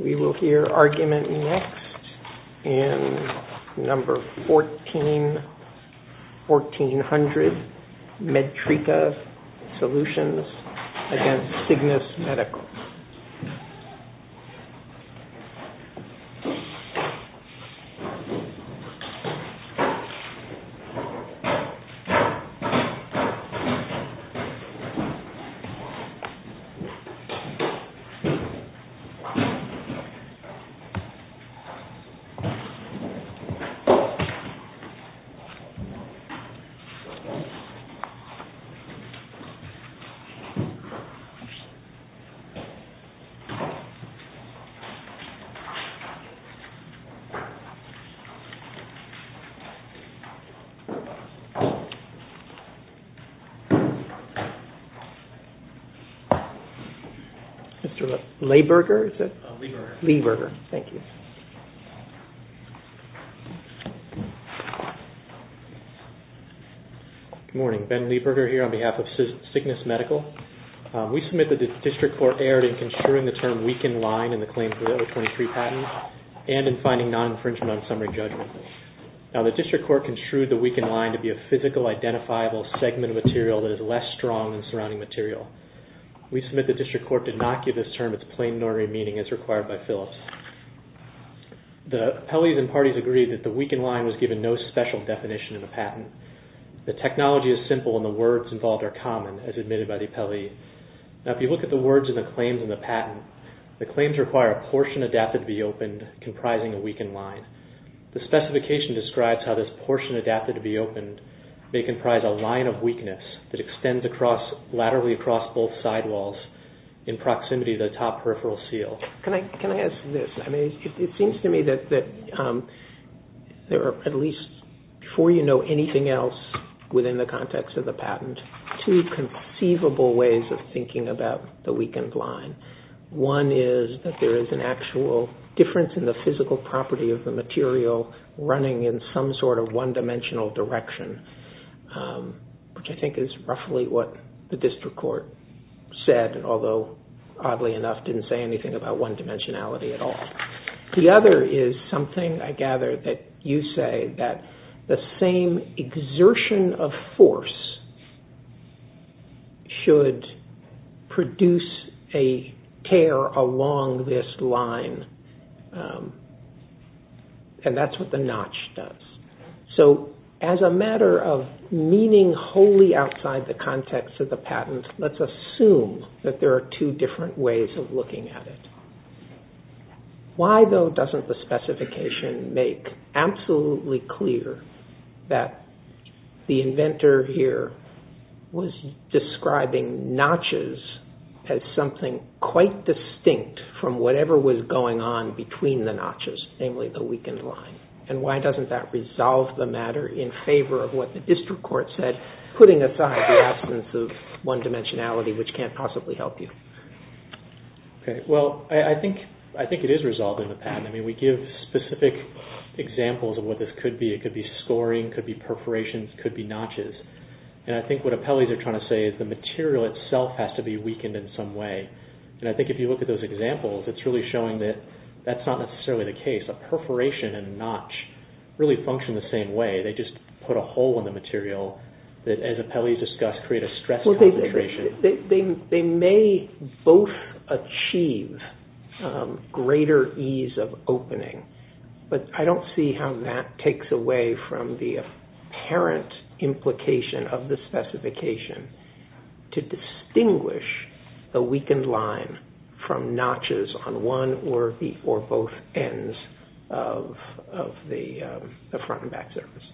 We will hear argument next in No. 1400, Medtrica Solutions against Cygnus Medical. We will hear argument next in No. 1400, Medtrica Solutions against Cygnus Medical. Mr. Leiberger. Good morning, Ben Leiberger here on behalf of Cygnus Medical. We submit that the District Court erred in construing the term weakened line in the claim for the O23 patent and in finding non-infringement on summary judgment. Now the District Court construed the weakened line to be a physical identifiable segment of material that is less strong than the surrounding material. We submit that the District Court did not give this term its plain normative meaning as required by Phillips. The appellees and parties agreed that the weakened line was given no special definition in the patent. The technology is simple and the words involved are common as admitted by the appellee. Now if you look at the words in the claims in the patent, the claims require a portion adapted to be opened comprising a weakened line. The specification describes how this portion adapted to be opened may comprise a line of weakness that extends laterally across both sidewalls in proximity to the top peripheral seal. Can I ask this? It seems to me that there are at least, before you know anything else within the context of the patent, two conceivable ways of thinking about the weakened line. One is that there is an actual difference in the physical property of the material running in some sort of one-dimensional direction, which I think is roughly what the District Court said, although oddly enough didn't say anything about one-dimensionality at all. The other is something I gather that you say that the same exertion of force should produce a tear along this line. And that's what the notch does. So as a matter of meaning wholly outside the context of the patent, let's assume that there are two different ways of looking at it. Why, though, doesn't the specification make absolutely clear that the inventor here was describing notches as something quite distinct from whatever was going on between the notches, namely the weakened line? And why doesn't that resolve the matter in favor of what the District Court said, putting aside the absence of one-dimensionality, which can't possibly help you? Well, I think it is resolved in the patent. I mean, we give specific examples of what this could be. It could be scoring. It could be perforations. It could be notches. And I think what appellees are trying to say is the material itself has to be weakened in some way. And I think if you look at those examples, it's really showing that that's not necessarily the case. A perforation and a notch really function the same way. They just put a hole in the material that, as appellees discussed, create a stress concentration. They may both achieve greater ease of opening, but I don't see how that takes away from the apparent implication of the specification to distinguish the weakened line from notches on one or both ends of the front and back surface.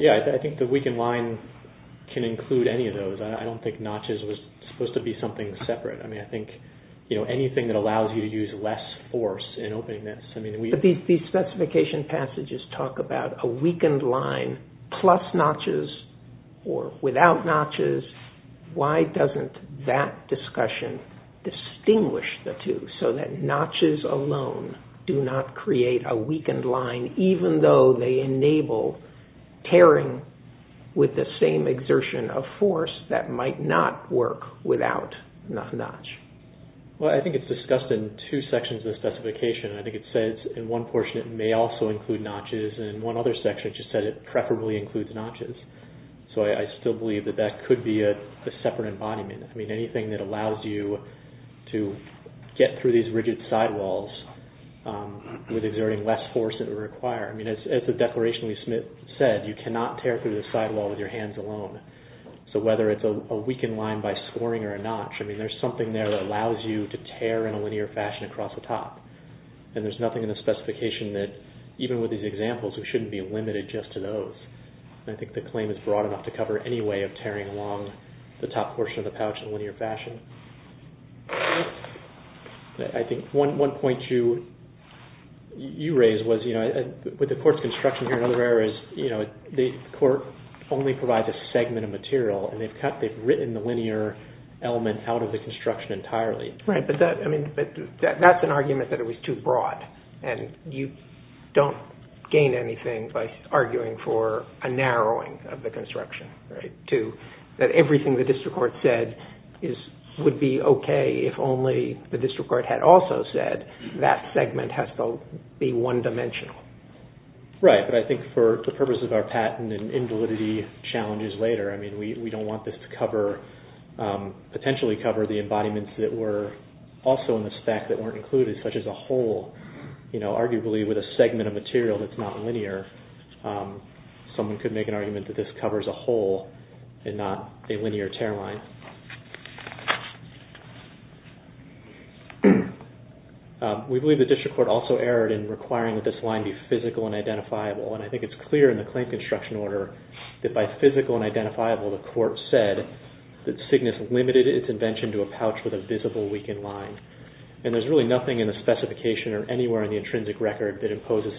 Yeah, I think the weakened line can include any of those. I don't think notches was supposed to be something separate. I mean, I think anything that allows you to use less force in opening this. But these specification passages talk about a weakened line plus notches or without notches. Why doesn't that discussion distinguish the two so that notches alone do not create a weakened line, even though they enable tearing with the same exertion of force that might not work without a notch? Well, I think it's discussed in two sections of the specification. I think it says in one portion it may also include notches, and in one other section it just said it preferably includes notches. So I still believe that that could be a separate embodiment. I mean, anything that allows you to get through these rigid sidewalls with exerting less force than would require. I mean, as the declaration we submit said, you cannot tear through the sidewall with your hands alone. So whether it's a weakened line by scoring or a notch, I mean, there's something there that allows you to tear in a linear fashion across the top. And there's nothing in the specification that, even with these examples, we shouldn't be limited just to those. I think the claim is broad enough to cover any way of tearing along the top portion of the pouch in a linear fashion. I think one point you raised was, you know, with the court's construction here in other areas, you know, the court only provides a segment of material. And they've cut, they've written the linear element out of the construction entirely. Right, but that's an argument that it was too broad, and you don't gain anything by arguing for a narrowing of the construction. That everything the district court said would be okay if only the district court had also said that segment has to be one-dimensional. Right, but I think for the purpose of our patent and invalidity challenges later, I mean, we don't want this to cover, potentially cover the embodiments that were also in the spec that weren't included, such as a hole, you know, arguably with a segment of material that's not linear. Someone could make an argument that this covers a hole and not a linear tear line. We believe the district court also erred in requiring that this line be physical and identifiable. And I think it's clear in the claim construction order that by physical and identifiable, the court said that Cygnus limited its invention to a pouch with a visible weakened line. And there's really nothing in the specification or anywhere in the intrinsic record that imposes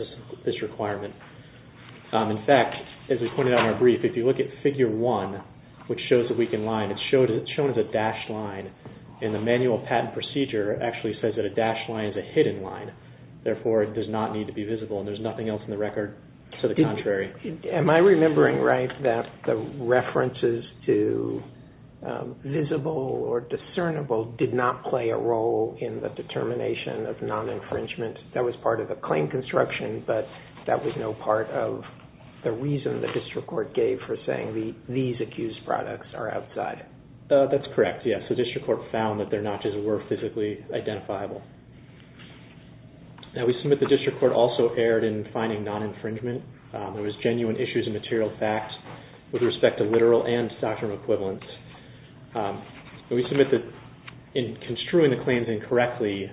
this requirement. In fact, as we pointed out in our brief, if you look at figure one, which shows the weakened line, it's shown as a dashed line. And the manual patent procedure actually says that a dashed line is a hidden line. Therefore, it does not need to be visible. And there's nothing else in the record to the contrary. Am I remembering right that the references to visible or discernible did not play a role in the determination of non-infringement? That was part of the claim construction, but that was no part of the reason the district court gave for saying these accused products are outside. That's correct, yes. The district court found that their notches were physically identifiable. We submit the district court also erred in finding non-infringement. There was genuine issues and material facts with respect to literal and doctrinal equivalents. We submit that in construing the claims incorrectly,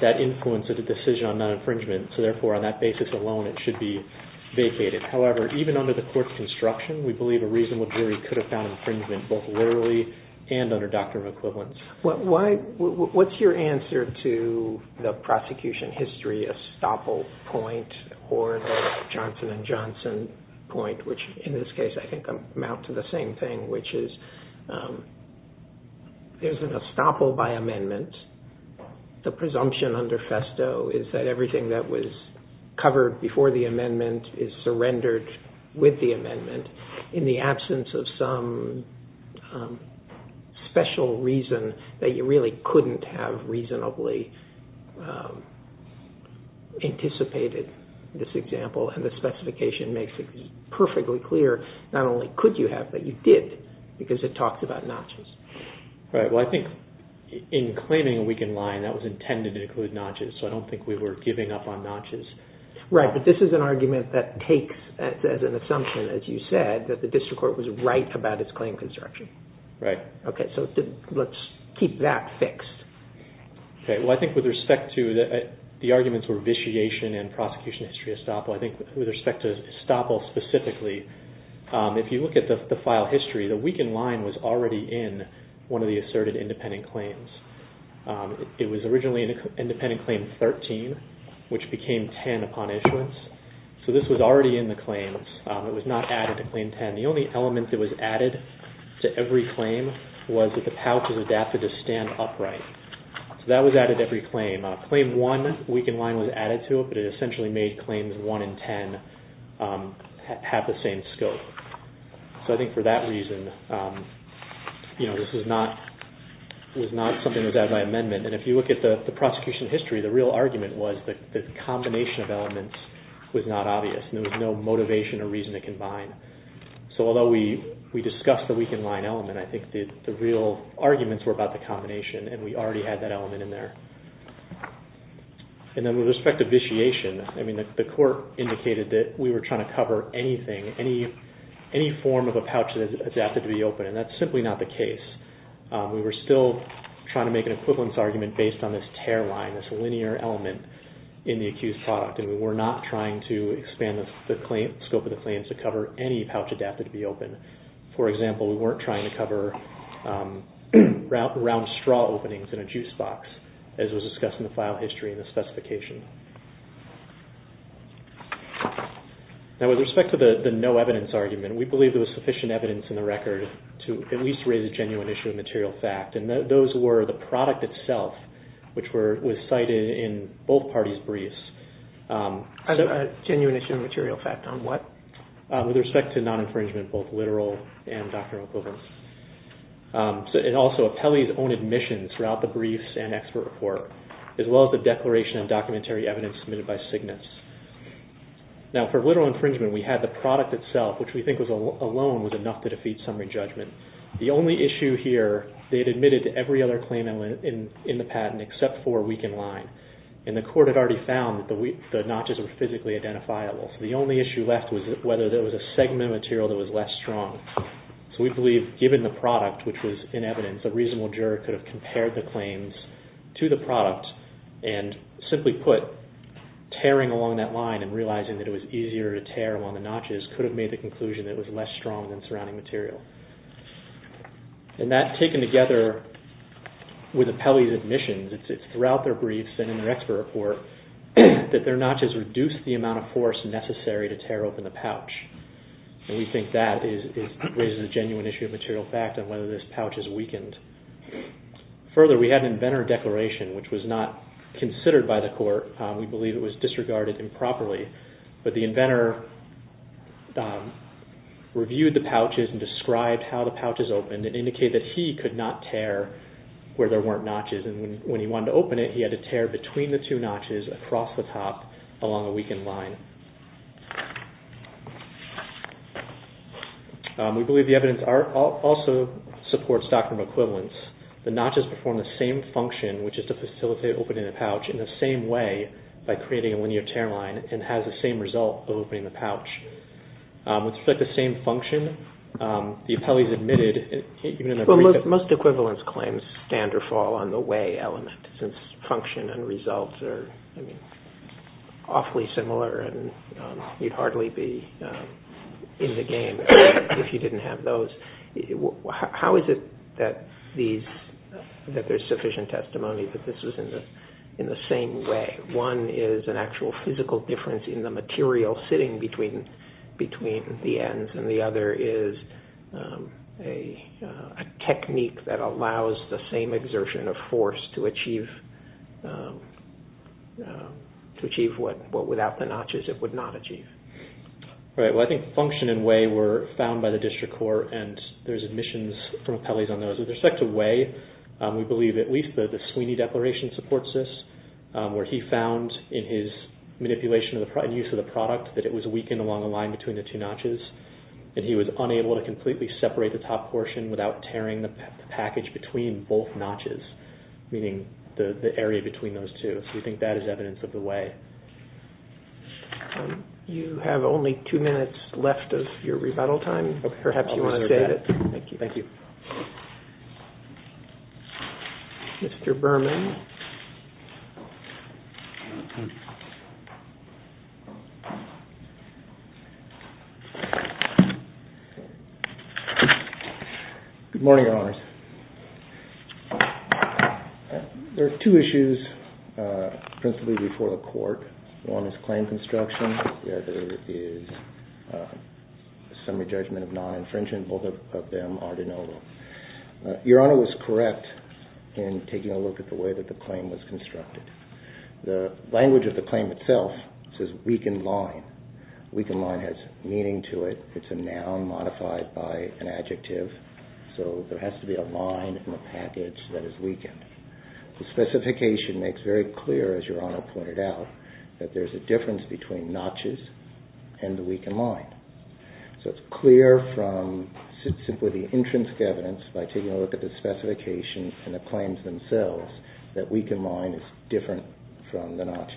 that influenced the decision on non-infringement. So therefore, on that basis alone, it should be vacated. However, even under the court's construction, we believe a reasonable jury could have found infringement both literally and under doctrinal equivalents. What's your answer to the prosecution history estoppel point or the Johnson & Johnson point, which in this case I think amounts to the same thing, which is there's an estoppel by amendment, the presumption under FESTO is that everything that was covered before the amendment is surrendered with the amendment in the absence of some special reason that you really couldn't have reasonably anticipated this example. The specification makes it perfectly clear not only could you have, but you did because it talks about notches. I think in claiming a weakened line, that was intended to include notches, so I don't think we were giving up on notches. Right, but this is an argument that takes as an assumption, as you said, that the district court was right about its claim construction. Right. Let's keep that fixed. Okay, well I think with respect to the arguments for vitiation and prosecution history estoppel, I think with respect to estoppel specifically, if you look at the file history, the weakened line was already in one of the asserted independent claims. It was originally in independent claim 13, which became 10 upon issuance, so this was already in the claims. It was not added to claim 10. The only element that was added to every claim was that the pouch was adapted to stand upright. So that was added to every claim. Claim 1, weakened line, was added to it, but it essentially made claims 1 and 10 have the same scope. So I think for that reason, this was not something that was added by amendment, and if you look at the prosecution history, the real argument was that the combination of elements was not obvious and there was no motivation or reason to combine. So although we discussed the weakened line element, I think the real arguments were about the combination, and we already had that element in there. And then with respect to vitiation, I mean, the court indicated that we were trying to cover anything, any form of a pouch that is adapted to be open, and that's simply not the case. We were still trying to make an equivalence argument based on this tear line, this linear element in the accused product, and we were not trying to expand the scope of the claims to cover any pouch adapted to be open. For example, we weren't trying to cover round straw openings in a juice box, as was discussed in the file history in the specification. Now with respect to the no evidence argument, we believe there was sufficient evidence in the record to at least raise a genuine issue of material fact, and those were the product itself, which was cited in both parties' briefs. A genuine issue of material fact on what? With respect to non-infringement, both literal and doctrinal equivalence. And also, Apelli's own admissions throughout the briefs and expert report, as well as the declaration and documentary evidence submitted by Cygnus. Now for literal infringement, we had the product itself, which we think alone was enough to defeat summary judgment. The only issue here, they had admitted to every other claim in the patent except for a weakened line, and the court had already found that the notches were physically identifiable, so the only issue left was whether there was a segment of material that was less strong. So we believe, given the product, which was in evidence, a reasonable juror could have compared the claims to the product, and simply put, tearing along that line and realizing that it was easier to tear along the notches could have made the conclusion that it was less strong than surrounding material. And that, taken together with Apelli's admissions throughout their briefs and in their expert report, that their notches reduced the amount of force necessary to tear open the pouch. And we think that raises a genuine issue of material fact on whether this pouch is weakened. Further, we had an inventor declaration, which was not considered by the court. We believe it was disregarded improperly. But the inventor reviewed the pouches and described how the pouches opened and indicated that he could not tear where there weren't notches. And when he wanted to open it, he had to tear between the two notches across the top along a weakened line. We believe the evidence also supports doctrine of equivalence. The notches perform the same function, which is to facilitate opening the pouch in the same way by creating a linear tear line, and has the same result of opening the pouch. With respect to same function, the Apelli's admitted, even in a brief... Most equivalence claims stand or fall on the way element, since function and results are awfully similar and you'd hardly be in the game if you didn't have those. How is it that there's sufficient testimony that this was in the same way? One is an actual physical difference in the material sitting between the ends, and the other is a technique that allows the same exertion of force to achieve what without the notches it would not achieve. I think function and way were found by the district court, and there's admissions from Apelli's on those. With respect to way, we believe at least the Sweeney Declaration supports this, where he found in his manipulation and use of the product that it was weakened along the line between the two notches, and he was unable to completely separate the top portion without tearing the package between both notches, meaning the area between those two. We think that is evidence of the way. You have only two minutes left of your rebuttal time. Perhaps you want to restate it. Thank you. Thank you. Mr. Berman? Good morning, Your Honors. There are two issues principally before the court. One is claim construction. The other is summary judgment of non-infringement. Both of them are de novo. Your Honor was correct in taking a look at the way that the claim was constructed. The language of the claim itself says weakened line. Weakened line has meaning to it. It's a noun modified by an adjective, so there has to be a line in the package that is weakened. The specification makes very clear, as Your Honor pointed out, that there's a difference between notches and the weakened line. So it's clear from simply the intrinsic evidence, by taking a look at the specification and the claims themselves, that weakened line is different from the notches.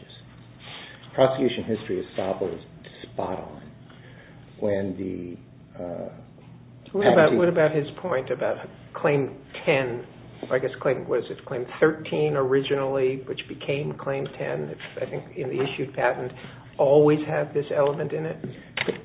Prosecution history is spot on. What about his point about claim 10? I guess it was claim 13 originally, which became claim 10. I think in the issued patent, always have this element in it.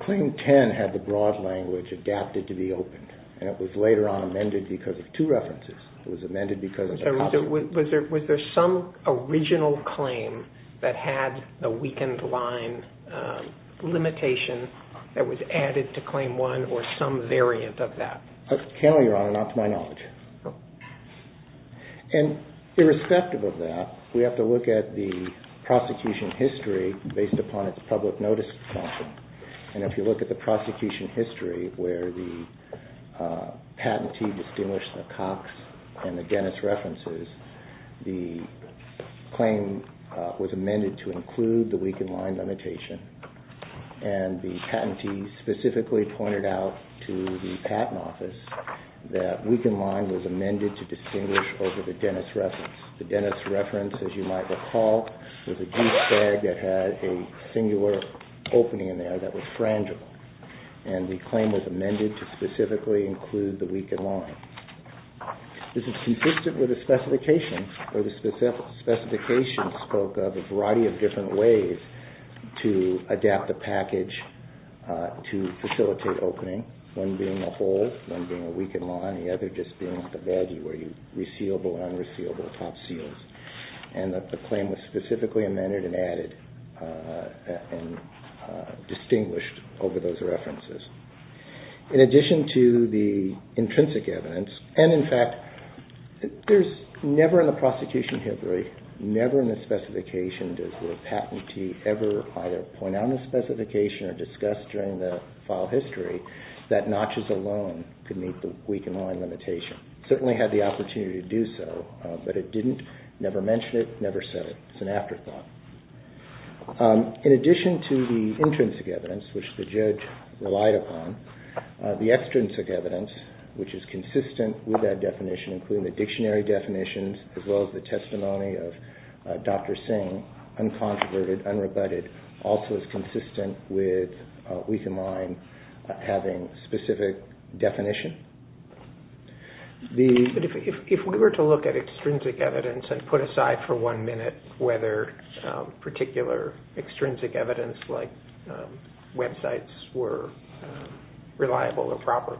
Claim 10 had the broad language adapted to be opened, and it was later on amended because of two references. It was amended because of a copy. Was there some original claim that had the weakened line limitation that was added to claim 1 or some variant of that? I can't tell you, Your Honor, not to my knowledge. Irrespective of that, we have to look at the prosecution history based upon its public notice content, and if you look at the prosecution history where the patentee distinguished the Cox and the Dennis references, the claim was amended to include the weakened line limitation, and the patentee specifically pointed out to the patent office that weakened line was amended to distinguish over the Dennis reference. The Dennis reference, as you might recall, was a goose tag that had a singular opening in there that was frangible, and the claim was amended to specifically include the weakened line. This is consistent with the specifications where the specifications spoke of a variety of different ways to adapt the package to facilitate opening, one being a hole, one being a weakened line, and the other just being the baggy, resealable, unresealable top seals, and the claim was specifically amended and added and distinguished over those references. In addition to the intrinsic evidence, and in fact there's never in the prosecution history, never in the specification does the patentee ever either point out in the specification or discuss during the file history that notches alone could meet the weakened line limitation. It certainly had the opportunity to do so, but it didn't never mention it, never said it. It's an afterthought. In addition to the intrinsic evidence, which the judge relied upon, the extrinsic evidence, which is consistent with that definition, including the dictionary definitions as well as the testimony of Dr. Singh, uncontroverted, unrebutted, also is consistent with weakened line having specific definition. If we were to look at extrinsic evidence and put aside for one minute whether particular extrinsic evidence like websites were reliable or proper,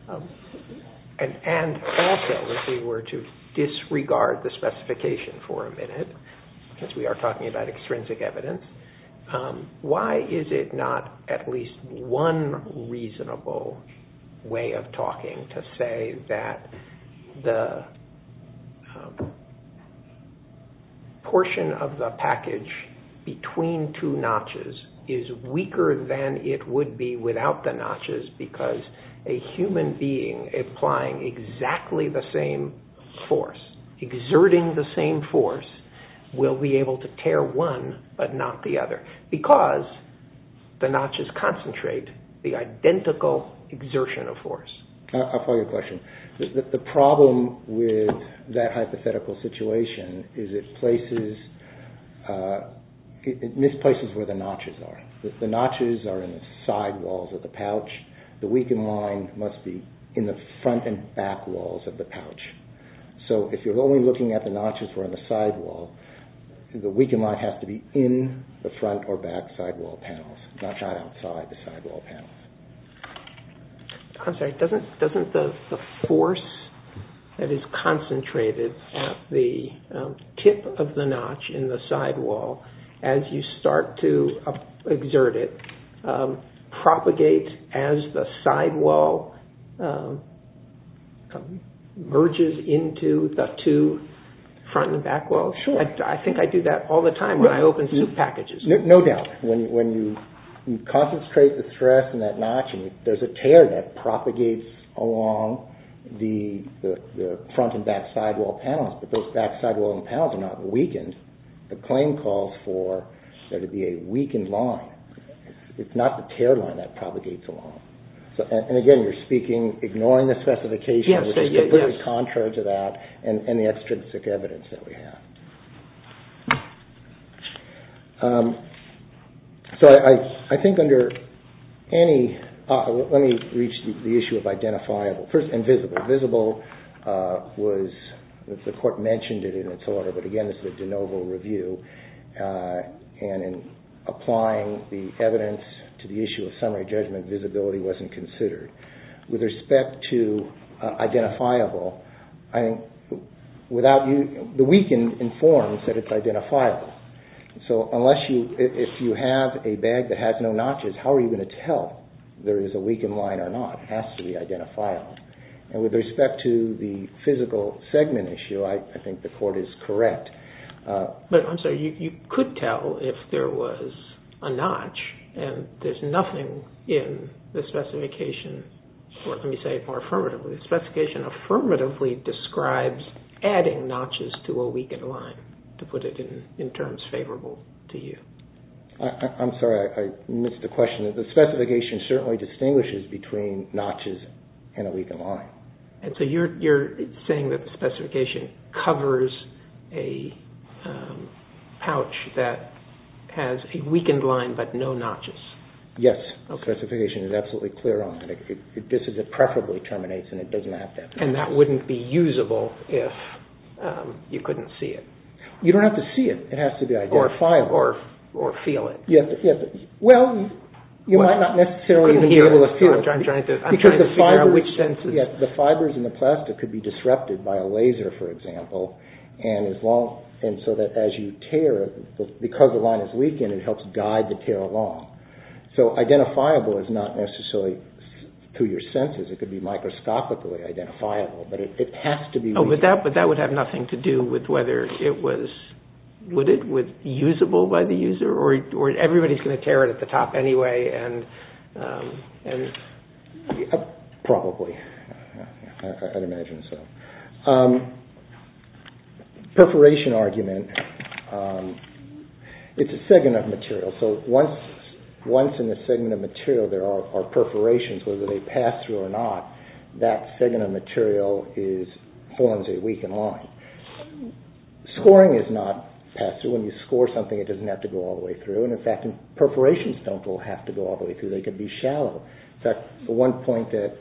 and also if we were to disregard the specification for a minute, because we are talking about extrinsic evidence, why is it not at least one reasonable way of talking to say that the portion of the package between two notches is weaker than it would be without the notches because a human being applying exactly the same force, exerting the same force, will be able to tear one but not the other because the notches concentrate the identical exertion of force. I'll follow your question. The problem with that hypothetical situation is it misplaces where the notches are. If the notches are in the sidewalls of the pouch, the weakened line must be in the front and back walls of the pouch. So if you're only looking at the notches that are in the sidewall, the weakened line has to be in the front or back sidewall panels, not right outside the sidewall panels. I'm sorry, doesn't the force that is concentrated at the tip of the notch in the sidewall as you start to exert it propagate as the sidewall merges into the two front and back walls? I think I do that all the time when I open suit packages. No doubt. When you concentrate the stress in that notch and there's a tear that propagates along the front and back sidewall panels but those back sidewall panels are not weakened, the claim calls for there to be a weakened line. It's not the tear line that propagates along. And again, you're speaking, ignoring the specification, which is completely contrary to that and the extrinsic evidence that we have. So I think under any, let me reach the issue of identifiable. First, invisible. Visible was, the court mentioned it in its order, but again this is a de novo review. And in applying the evidence to the issue of summary judgment, visibility wasn't considered. With respect to identifiable, the weakened informs that it's identifiable. So unless you, if you have a bag that has no notches, how are you going to tell there is a weakened line or not? It has to be identifiable. And with respect to the physical segment issue, I think the court is correct. But I'm sorry, you could tell if there was a notch and there's nothing in the specification, let me say it more affirmatively, the specification affirmatively describes adding notches to a weakened line, to put it in terms favorable to you. I'm sorry, I missed the question. The specification certainly distinguishes between notches and a weakened line. And so you're saying that the specification covers a pouch that has a weakened line, but no notches? Yes, the specification is absolutely clear on it. This is a preferably termination. And that wouldn't be usable if you couldn't see it. You don't have to see it. It has to be identifiable. Or feel it. Well, you might not necessarily be able to feel it. I'm trying to figure out which senses. The fibers in the plastic could be disrupted by a laser, for example, and so that as you tear, because the line is weakened, it helps guide the tear along. So identifiable is not necessarily through your senses. It could be microscopically identifiable, but it has to be. But that would have nothing to do with whether it was usable by the user or everybody's going to tear it at the top anyway. Probably. I'd imagine so. Perforation argument. It's a segment of material. So once in the segment of material there are perforations, whether they pass through or not, that segment of material forms a weakened line. Scoring is not passed through. When you score something, it doesn't have to go all the way through. And, in fact, perforations don't all have to go all the way through. They could be shallow. In fact, the one point that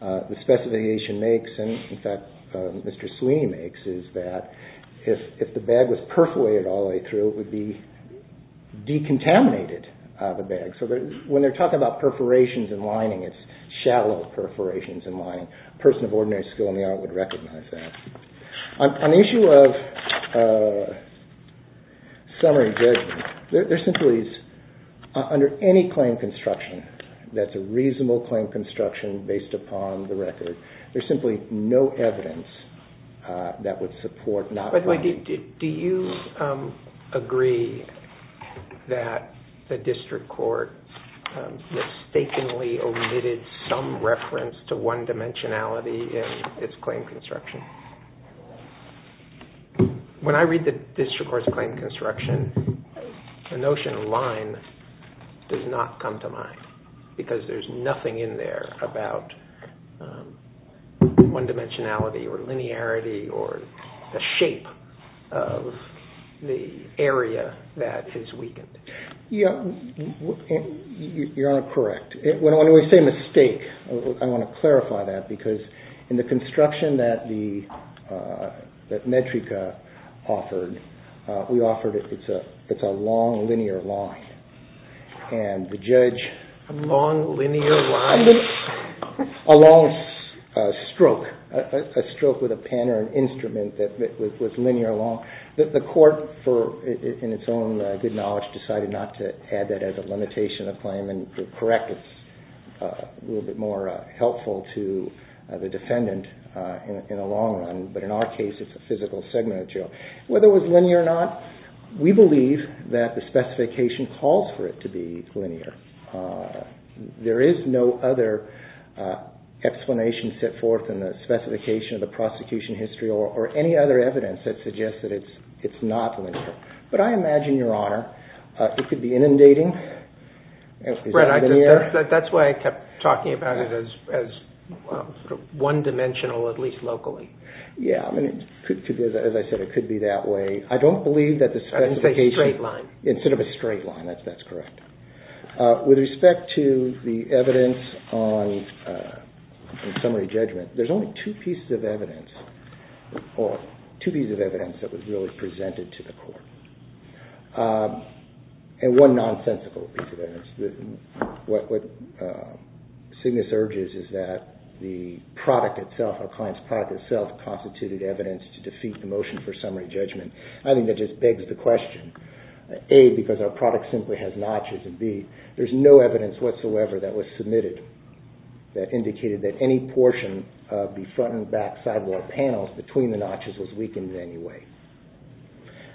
the specification makes, and, in fact, Mr. Sweeney makes, is that if the bag was perforated all the way through, it would be decontaminated out of the bag. So when they're talking about perforations and lining, it's shallow perforations and lining. A person of ordinary skill in the art would recognize that. On the issue of summary judgment, there simply is, under any claim construction that's a reasonable claim construction based upon the record, there's simply no evidence that would support not claiming. By the way, do you agree that the district court mistakenly omitted some reference to one-dimensionality in its claim construction? When I read the district court's claim construction, the notion of line does not come to mind because there's nothing in there about one-dimensionality or linearity or the shape of the area that is weakened. You're correct. When we say mistake, I want to clarify that because in the construction that Medtrika offered, we offered it's a long, linear line. And the judge... A long, linear line? A long stroke. A stroke with a pen or an instrument that was linear along. The court, in its own good knowledge, decided not to add that as a limitation of claim. You're correct. It's a little bit more helpful to the defendant in the long run. But in our case, it's a physical segment of the jail. Whether it was linear or not, we believe that the specification calls for it to be linear. There is no other explanation set forth in the specification of the prosecution history or any other evidence that suggests that it's not linear. But I imagine, Your Honor, it could be inundating. That's why I kept talking about it as one-dimensional, at least locally. Yeah. As I said, it could be that way. I don't believe that the specification... I didn't say straight line. Instead of a straight line. That's correct. With respect to the evidence on summary judgment, there's only two pieces of evidence that was really presented to the court. And one nonsensical piece of evidence. What Cygnus urges is that the product itself, our client's product itself, constituted evidence to defeat the motion for summary judgment. I think that just begs the question, A, because our product simply has notches, and B, there's no evidence whatsoever that was submitted that indicated that any portion of the front and back sidewall panels between the notches was weakened in any way.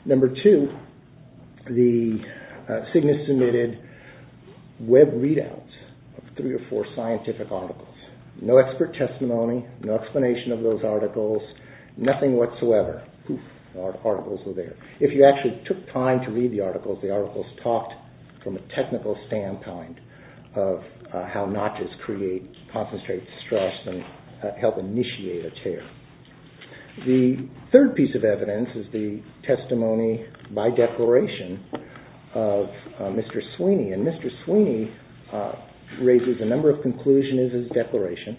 Number two, the Cygnus submitted web readouts of three or four scientific articles. No expert testimony. No explanation of those articles. Nothing whatsoever. Our articles were there. If you actually took time to read the articles, the articles talked from a technical standpoint of how notches create concentrated stress and help initiate a tear. The third piece of evidence is the testimony by declaration of Mr. Sweeney. And Mr. Sweeney raises a number of conclusions in his declaration.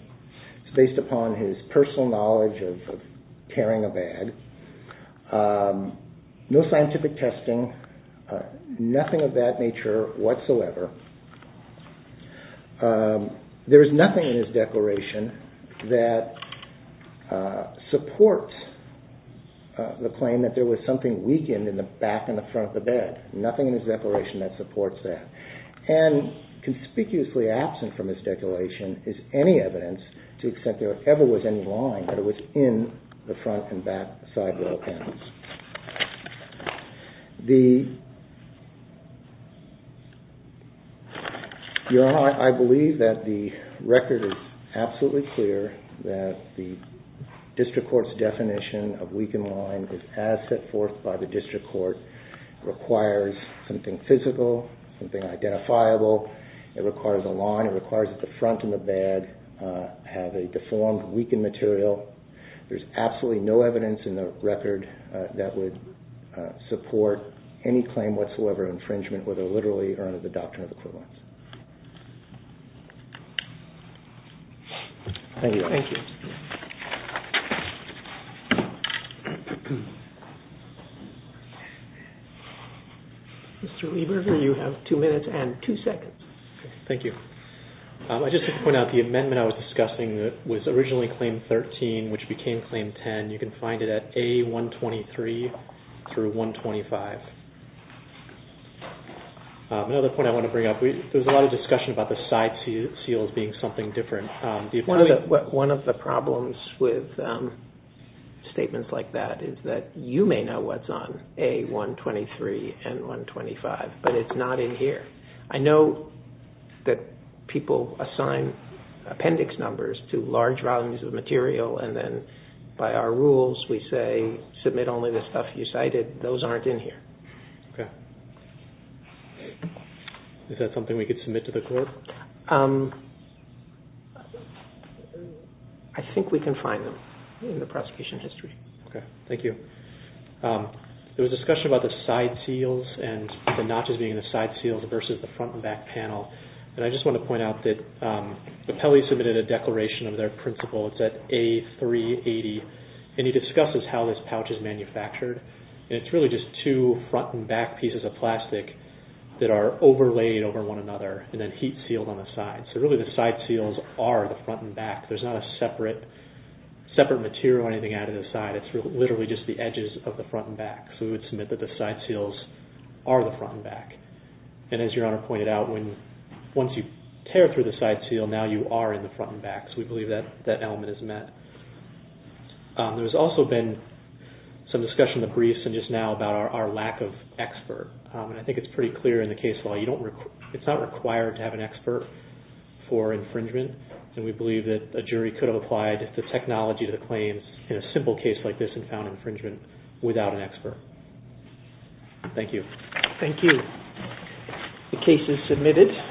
It's based upon his personal knowledge of tearing a bag. No scientific testing. Nothing of that nature whatsoever. There is nothing in his declaration that supports the claim that there was something weakened in the back and the front of the bed. Nothing in his declaration that supports that. And conspicuously absent from his declaration is any evidence to the extent there ever was any line that it was in the front and back sidewall panels. I believe that the record is absolutely clear that the district court's definition of weakened line is as set forth by the district court. It requires something physical, something identifiable. It requires a line. It requires that the front and the bed have a deformed, weakened material. There's absolutely no evidence in the record that would support any claim whatsoever of infringement whether literally or under the doctrine of equivalence. Thank you. Mr. Weaver, you have two minutes and two seconds. Thank you. I just want to point out the amendment I was discussing was originally Claim 13, which became Claim 10. You can find it at A123 through 125. Another point I want to bring up, there was a lot of discussion about the side seals being something different. One of the problems with statements like that is that you may know what's on A123 and 125, but it's not in here. I know that people assign appendix numbers to large volumes of material and then by our rules we say, submit only the stuff you cited. Those aren't in here. Is that something we could submit to the court? I think we can find them in the prosecution history. Thank you. There was discussion about the side seals and the notches being the side seals versus the front and back panel. I just want to point out that Apelli submitted a declaration of their principle. It's at A380. It discusses how this pouch is manufactured. It's really just two front and back pieces of plastic that are overlaid over one another and then heat sealed on the sides. Really, the side seals are the front and back. There's not a separate material or anything added to the side. It's literally just the edges of the front and back. We would submit that the side seals are the front and back. As Your Honor pointed out, once you tear through the side seal, now you are in the front and back. We believe that element is met. There's also been some discussion in the briefs and just now about our lack of expert. I think it's pretty clear in the case law. It's not required to have an expert for infringement. We believe that a jury could have applied the technology to the claims in a simple case like this and found infringement without an expert. Thank you. Thank you. The case is submitted.